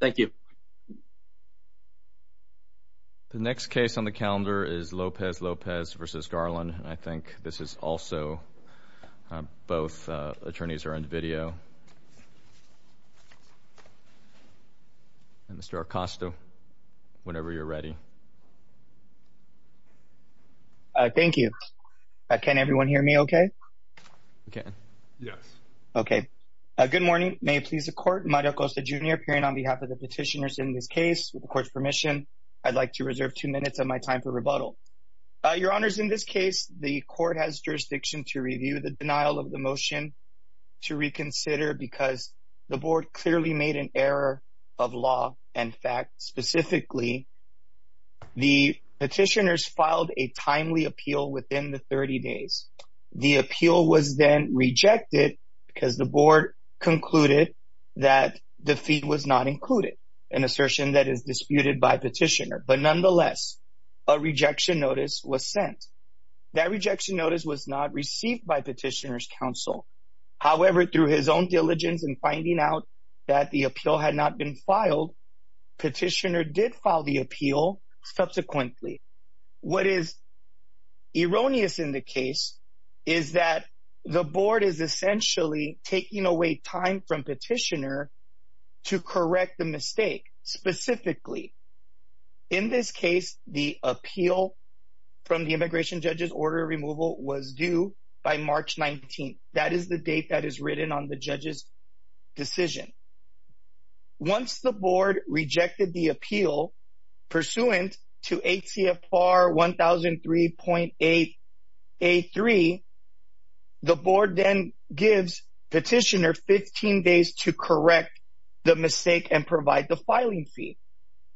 The next case on the calendar is Lopez-Lopez v. Garland and I think this is also both attorneys are in video. Mr. Acosta, whenever you're ready. Thank you. Can everyone hear me okay? Yes. Okay. Good morning. May it please the court, Mario Acosta, Jr. appearing on behalf of the petitioners in this case. With the court's permission, I'd like to reserve two minutes of my time for rebuttal. Your honors, in this case, the court has jurisdiction to review the denial of the motion to reconsider because the board clearly made an error of law. In fact, specifically, the petitioners filed a timely appeal within the 30 days. The appeal was then rejected because the board concluded that the fee was not included, an assertion that is disputed by petitioner, but nonetheless, a rejection notice was sent. That rejection notice was not received by petitioner's counsel, however, through his own diligence and finding out that the appeal had not been filed, petitioner did file the appeal subsequently. What is erroneous in the case is that the board is essentially taking away time from petitioner to correct the mistake specifically. In this case, the appeal from the immigration judge's order removal was due by March 19th. That is the date that is written on the judge's decision. Once the board rejected the appeal pursuant to ATFR 1003.8A3, the board then gives petitioner 15 days to correct the mistake and provide the filing fee.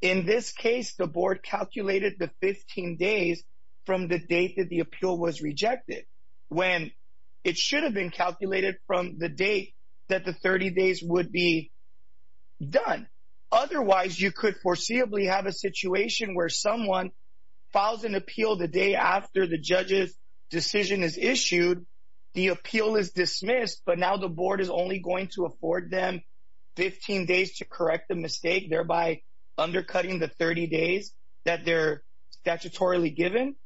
In this case, the board calculated the 15 days from the date that the appeal was rejected when it should have been calculated from the date that the 30 days would be done. Otherwise, you could foreseeably have a situation where someone files an appeal the day after the judge's decision is issued. The appeal is dismissed, but now the board is only going to afford them 15 days to correct the mistake, thereby undercutting the 30 days that they're statutorily given.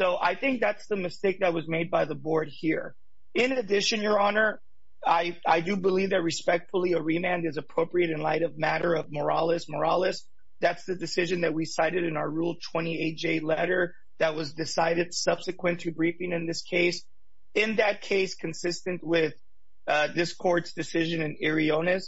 I think that's the mistake that was made by the board here. In addition, Your Honor, I do believe that respectfully a remand is appropriate in light of matter of moralis moralis. That's the decision that we cited in our Rule 28J letter that was decided subsequent to briefing in this case. In that case, consistent with this court's decision in Eriones,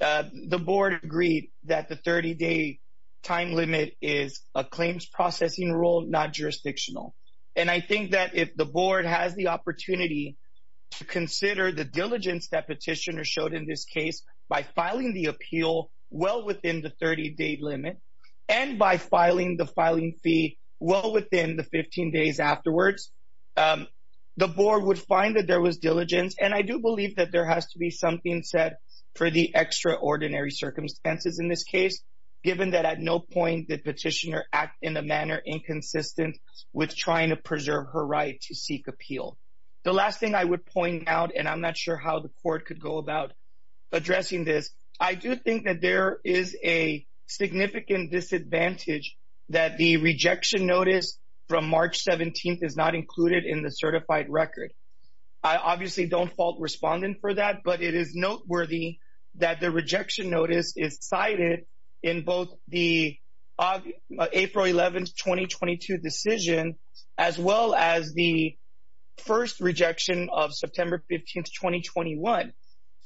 the board agreed that the 30-day time limit is a claims processing rule, not jurisdictional. And I think that if the board has the opportunity to consider the diligence that petitioner showed in this case by filing the appeal well within the 30-day limit and by filing the filing fee well within the 15 days afterwards, the board would find that there was diligence. And I do believe that there has to be something set for the extraordinary circumstances in this case, given that at no point did petitioner act in a manner inconsistent with trying to preserve her right to seek appeal. The last thing I would point out, and I'm not sure how the court could go about addressing this, I do think that there is a significant disadvantage that the rejection notice from March 17th is not included in the certified record. I obviously don't fault respondent for that, but it is noteworthy that the rejection notice is cited in both the April 11th, 2022 decision, as well as the first rejection of September 15th, 2021.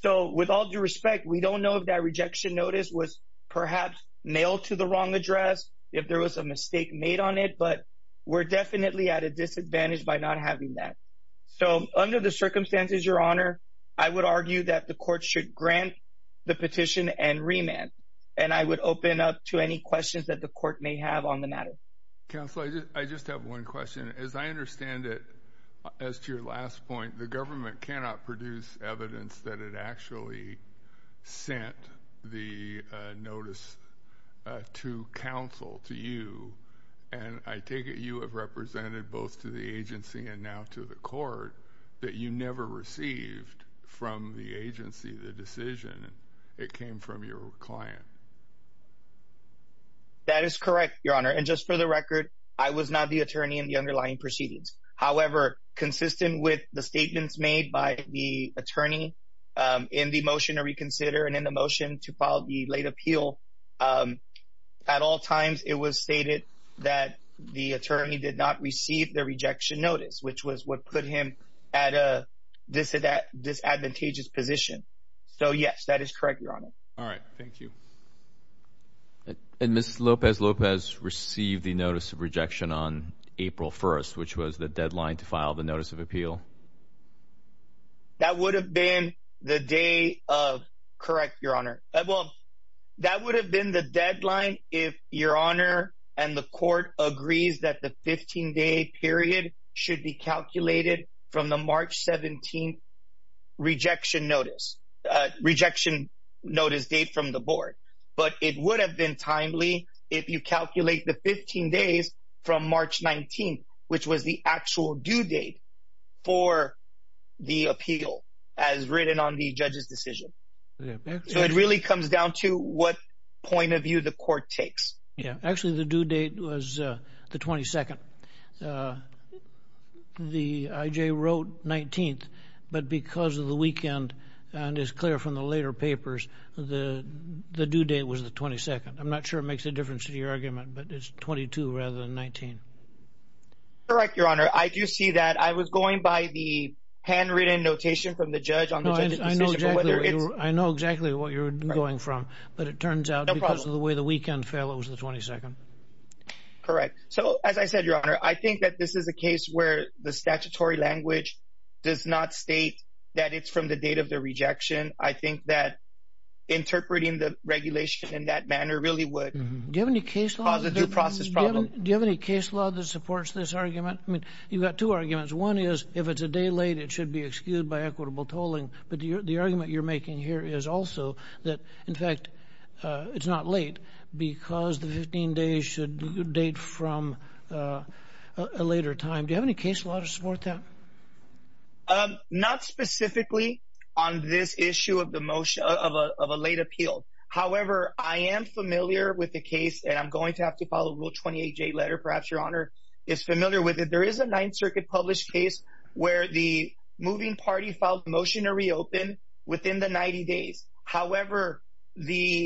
So with all due respect, we don't know if that rejection notice was perhaps mailed to the wrong address, if there was a mistake made on it, but we're definitely at a disadvantage by not having that. So under the circumstances, Your Honor, I would argue that the court should grant the amendment. And I would open up to any questions that the court may have on the matter. Counsel, I just have one question. As I understand it, as to your last point, the government cannot produce evidence that it actually sent the notice to counsel, to you. And I take it you have represented both to the agency and now to the court that you never received from the agency the decision. It came from your client. That is correct, Your Honor. And just for the record, I was not the attorney in the underlying proceedings. However, consistent with the statements made by the attorney in the motion to reconsider and in the motion to file the late appeal, at all times it was stated that the attorney did not receive the rejection notice, which was what put him at a disadvantageous position. So, yes, that is correct, Your Honor. All right. Thank you. And Ms. Lopez-Lopez received the notice of rejection on April 1st, which was the deadline to file the notice of appeal. That would have been the day of—correct, Your Honor—well, that would have been the deadline if Your Honor and the court agrees that the 15-day period should be calculated from the March 17th rejection notice—rejection notice date from the board. But it would have been timely if you calculate the 15 days from March 19th, which was the actual due date for the appeal as written on the judge's decision. So it really comes down to what point of view the court takes. Yeah. Actually, the due date was the 22nd. The I.J. wrote 19th, but because of the weekend, and it's clear from the later papers, the due date was the 22nd. I'm not sure it makes a difference to your argument, but it's 22 rather than 19. Correct, Your Honor. I do see that. I was going by the handwritten notation from the judge on the judge's decision. I know exactly what you're going from, but it turns out because of the way the weekend fell, it was the 22nd. Correct. So, as I said, Your Honor, I think that this is a case where the statutory language does not state that it's from the date of the rejection. I think that interpreting the regulation in that manner really would cause a due process problem. Do you have any case law that supports this argument? I mean, you've got two arguments. One is if it's a day late, it should be excused by equitable tolling, but the argument you're from a later time, do you have any case law to support that? Not specifically on this issue of a late appeal. However, I am familiar with the case, and I'm going to have to follow Rule 28J letter, perhaps Your Honor is familiar with it. There is a Ninth Circuit published case where the moving party filed a motion to reopen within the 90 days. However, then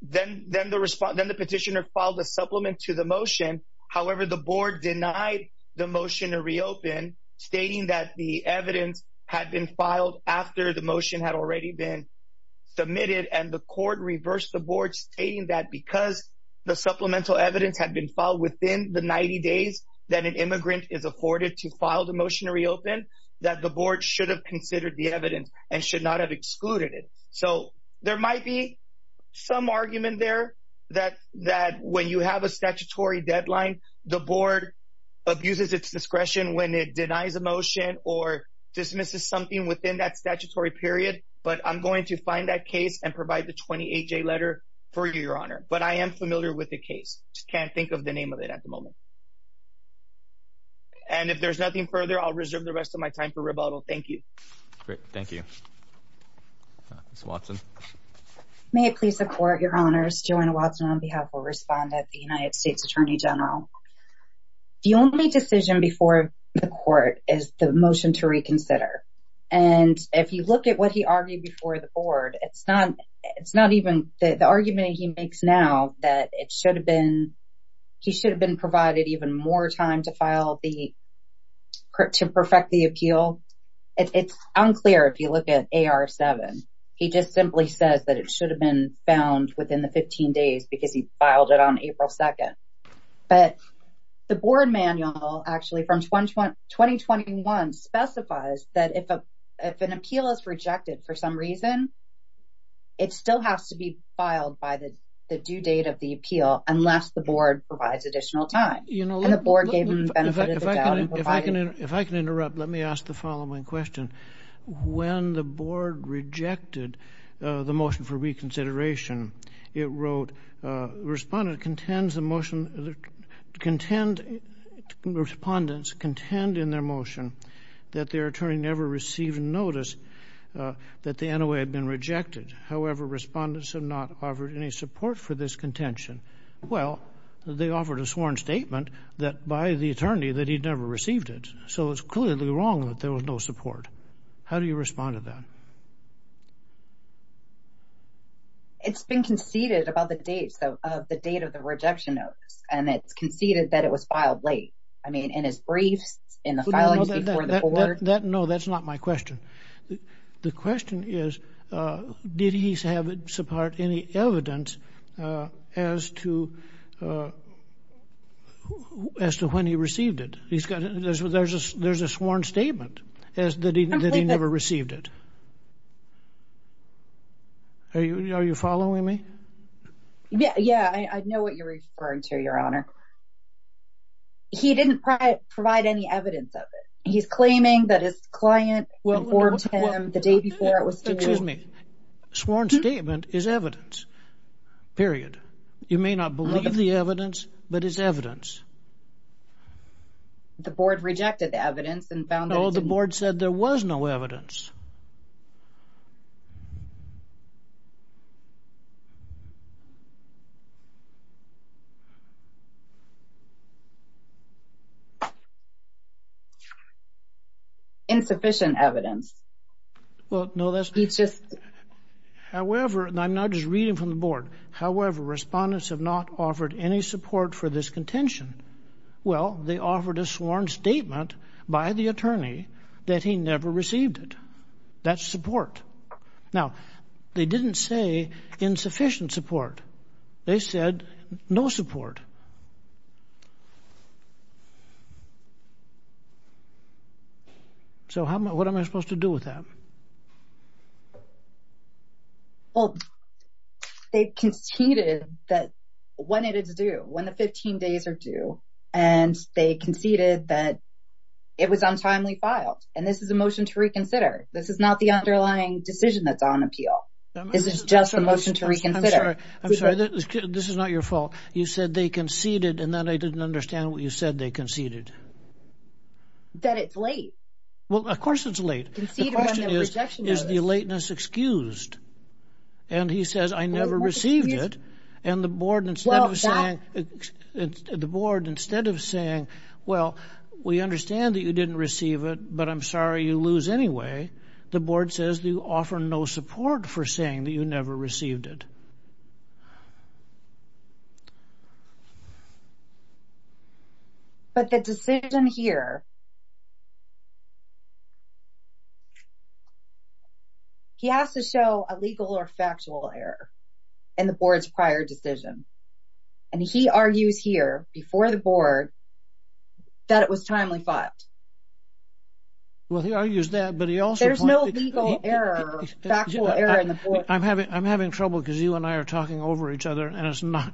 the petitioner filed a supplement to the motion. However, the board denied the motion to reopen stating that the evidence had been filed after the motion had already been submitted, and the court reversed the board stating that because the supplemental evidence had been filed within the 90 days that an immigrant is afforded to file the motion to reopen, that the board should have considered the evidence and should not have excluded it. So there might be some argument there that when you have a statutory deadline, the board abuses its discretion when it denies a motion or dismisses something within that statutory period, but I'm going to find that case and provide the 28J letter for you, Your Honor. But I am familiar with the case, just can't think of the name of it at the moment. And if there's nothing further, I'll reserve the rest of my time for rebuttal. Thank you. Great. Thank you. Ms. Watson. May it please the court, Your Honors, Joanna Watson on behalf of a respondent, the United States Attorney General. The only decision before the court is the motion to reconsider. And if you look at what he argued before the board, it's not even, the argument he makes now that it should have been, he should have been provided even more time to file the, to perfect the appeal. It's unclear if you look at AR7. He just simply says that it should have been found within the 15 days because he filed it on April 2nd. But the board manual actually from 2021 specifies that if an appeal is rejected for some reason, it still has to be filed by the due date of the appeal unless the board provides additional time. And the board gave him the benefit of the doubt. If I can interrupt, let me ask the following question. When the board rejected the motion for reconsideration, it wrote, respondent contends the motion, contend, respondents contend in their motion that their attorney never received notice that the NOA had been rejected. However, respondents have not offered any support for this contention. Well, they offered a sworn statement that by the attorney that he'd never received it. So it's clearly wrong that there was no support. How do you respond to that? It's been conceded about the dates though, of the date of the rejection notes. And it's conceded that it was filed late. I mean, in his briefs, in the filings before the board. No, that's not my question. The question is, did he have any evidence as to when he received it? He's got, there's a sworn statement that he never received it. Are you following me? Yeah, I know what you're referring to, Your Honor. He didn't provide any evidence of it. He's claiming that his client informed him the day before it was sued. Excuse me. Sworn statement is evidence, period. You may not believe the evidence, but it's evidence. The board rejected the evidence and found that it didn't. No, the board said there was no evidence. Insufficient evidence. Well, no, that's just, however, and I'm not just reading from the board. However, respondents have not offered any support for this contention. Well, they offered a sworn statement by the attorney that he never received it. That's support. Now, they didn't say insufficient support. They said no support. So how, what am I supposed to do with that? Well, they conceded that when it is due, when the 15 days are due, and they conceded that it was untimely filed, and this is a motion to reconsider. This is not the underlying decision that's on appeal. This is just a motion to reconsider. I'm sorry, this is not your fault. You said they conceded, and then I didn't understand what you said they conceded. That it's late. Well, of course it's late. The question is, is the lateness excused? And he says, I never received it. And the board, instead of saying, the board, instead of saying, well, we understand that you didn't receive it, but I'm sorry you lose anyway, the board says they offer no support for saying that you never received it. But the decision here, he has to show a legal or factual error in the board's prior decision. And he argues here, before the board, that it was timely filed. Well, he argues that, but he also pointed to the fact that it was timely filed. There's no legal error, factual error in the board. I'm having trouble because you and I are talking over each other, and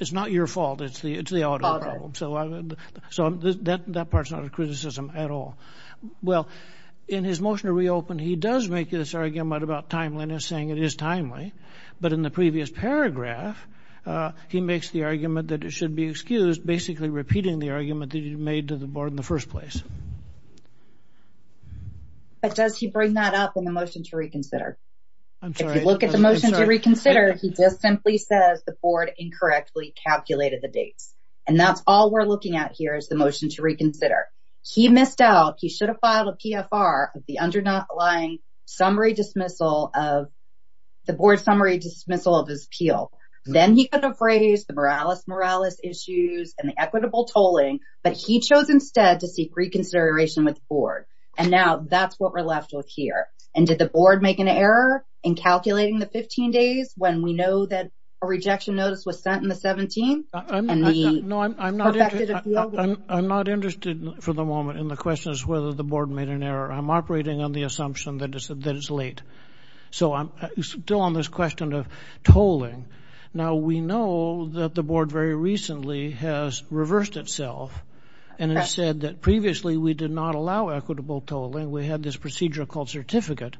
it's not your fault. It's the auditor's fault. So that part's not a criticism at all. Well, in his motion to reopen, he does make this argument about timeliness, saying it is timely. But in the previous paragraph, he makes the argument that it should be excused, basically repeating the argument that he made to the board in the first place. But does he bring that up in the motion to reconsider? If you look at the motion to reconsider, he just simply says the board incorrectly calculated the dates. And that's all we're looking at here is the motion to reconsider. He missed out. He should have filed a PFR of the underlying summary dismissal of, the board summary dismissal of his appeal. Then he could have raised the moralis moralis issues and the equitable tolling, but he chose instead to seek reconsideration with the board. And now that's what we're left with here. And did the board make an error in calculating the 15 days when we know that a rejection notice was sent in the 17? I'm not interested for the moment in the questions whether the board made an error. I'm operating on the assumption that it's late. So I'm still on this question of tolling. Now, we know that the board very recently has reversed itself. And it said that previously we did not allow equitable tolling. We had this procedure called certificate.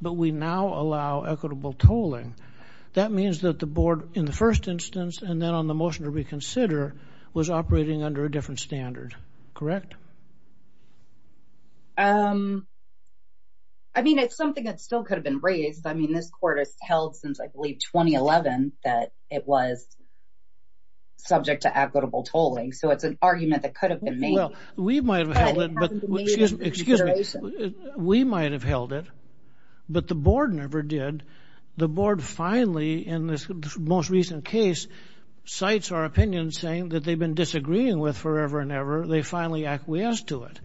But we now allow equitable tolling. That means that the board in the first instance and then on the motion to reconsider was operating under a different standard, correct? I mean, it's something that still could have been raised. I mean, this court has held since I believe 2011 that it was subject to equitable tolling. So it's an argument that could have been made. We might have held it, but the board never did. The board finally in this most recent case cites our opinion saying that they've been disagreeing with forever and ever. They finally acquiesced to it.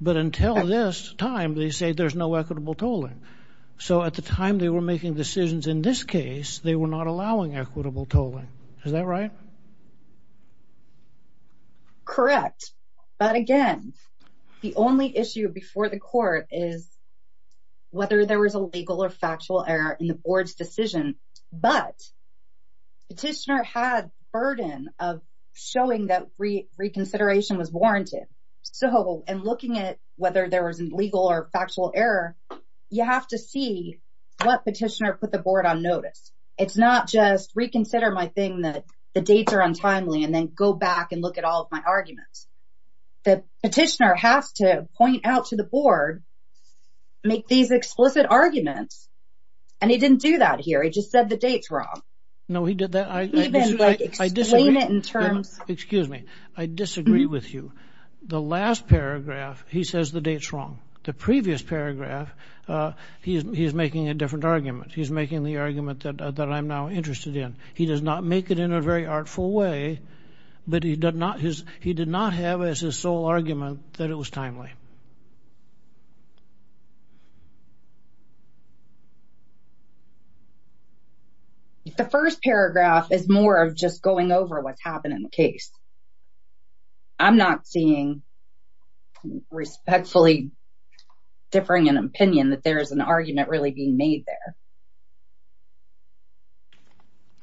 But until this time, they say there's no equitable tolling. So at the time they were making decisions in this case, they were not allowing equitable tolling. Is that right? Correct. But again, the only issue before the court is whether there was a legal or factual error in the board's decision. But petitioner had burden of showing that reconsideration was warranted. So in looking at whether there was a legal or factual error, you have to see what petitioner put the board on notice. It's not just reconsider my thing that the dates are untimely and then go back and look at all of my arguments. The petitioner has to point out to the board, make these explicit arguments. And he didn't do that here. He just said the date's wrong. No, he did that. Even like explain it in terms. Excuse me. I disagree with you. The last paragraph, he says the date's wrong. The previous paragraph, he's making a different argument. He's making the argument that I'm now interested in. He does not make it in a very artful way. But he did not have as his sole argument that it was timely. The first paragraph is more of just going over what's happened in the case. I'm not seeing respectfully differing an opinion that there is an argument really being made there.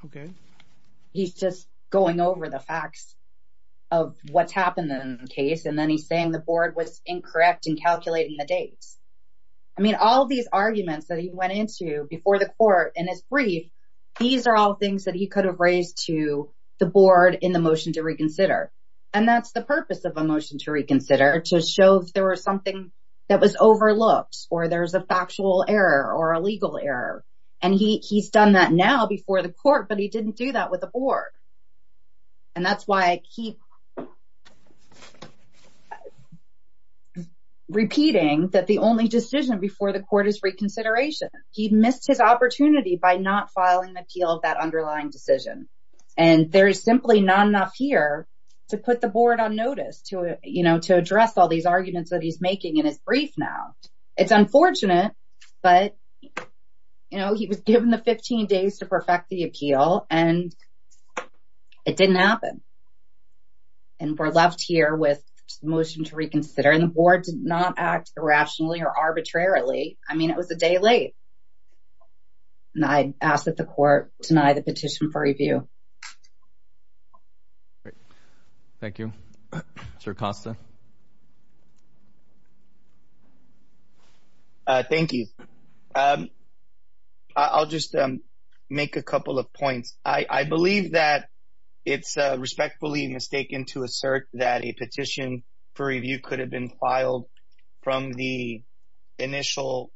Okay. He's just going over the facts of what's happened in the case. And then he's saying the board was incorrect in calculating the dates. I mean, all these arguments that he went into before the court in his brief, these are all things that he could have raised to the board in the motion to reconsider. And that's the purpose of a motion to reconsider, to show if there was something that was overlooked, or there's a factual error or a legal error. And he's done that now before the court, but he didn't do that with the board. And that's why I keep repeating that the only decision before the court is reconsideration. He missed his opportunity by not filing an appeal of that underlying decision. And there is simply not enough here to put the board on notice, to address all these arguments that he's making in his brief now. It's unfortunate, but he was given the 15 days to perfect the appeal, and it didn't happen. And we're left here with a motion to reconsider, and the board did not act irrationally or arbitrarily. I mean, it was a day late. And I ask that the court deny the petition for review. Thank you. Sir Costa. Thank you. I'll just make a couple of points. I believe that it's respectfully mistaken to assert that a petition for review could have been filed from the initial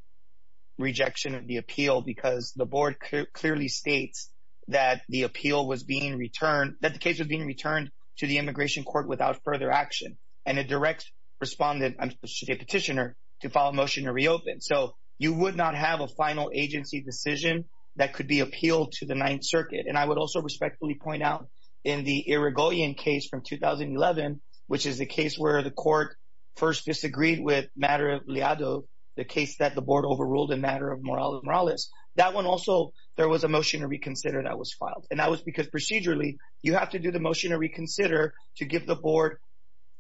rejection of the appeal, because the board clearly states that the appeal was being returned, that the case was being returned to the immigration court without further action. And a direct respondent, a petitioner, to file a motion to reopen. So you would not have a final agency decision that could be appealed to the Ninth Circuit. And I would also respectfully point out in the Irigoyen case from 2011, which is the case where the court first disagreed with Madre Lealado, the case that the board overruled in matter of Morales. That one also, there was a motion to reconsider that was filed. And that was because procedurally, you have to do the motion to reconsider to give the board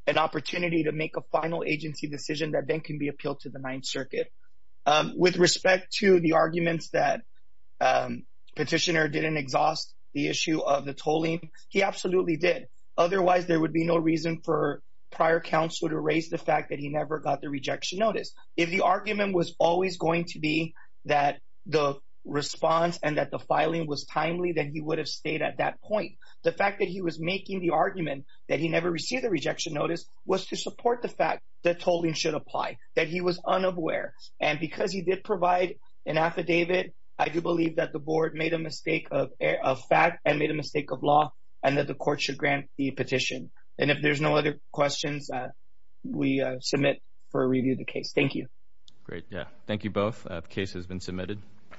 an opportunity to make a final agency decision that then can be appealed to the Ninth Circuit. With respect to the arguments that petitioner didn't exhaust the issue of the tolling, he absolutely did. Otherwise, there would be no reason for prior counsel to raise the fact that he never got the rejection notice. If the argument was always going to be that the response and that the filing was timely, then he would have stayed at that point. The fact that he was making the argument that he never received a rejection notice was to support the fact that tolling should apply, that he was unaware. And because he did provide an affidavit, I do believe that the board made a mistake of fact and made a mistake of law, and that the court should grant the petition. And if there's no other questions, we submit for a review of the case. Thank you. Great, yeah. Thank you both. The case has been submitted.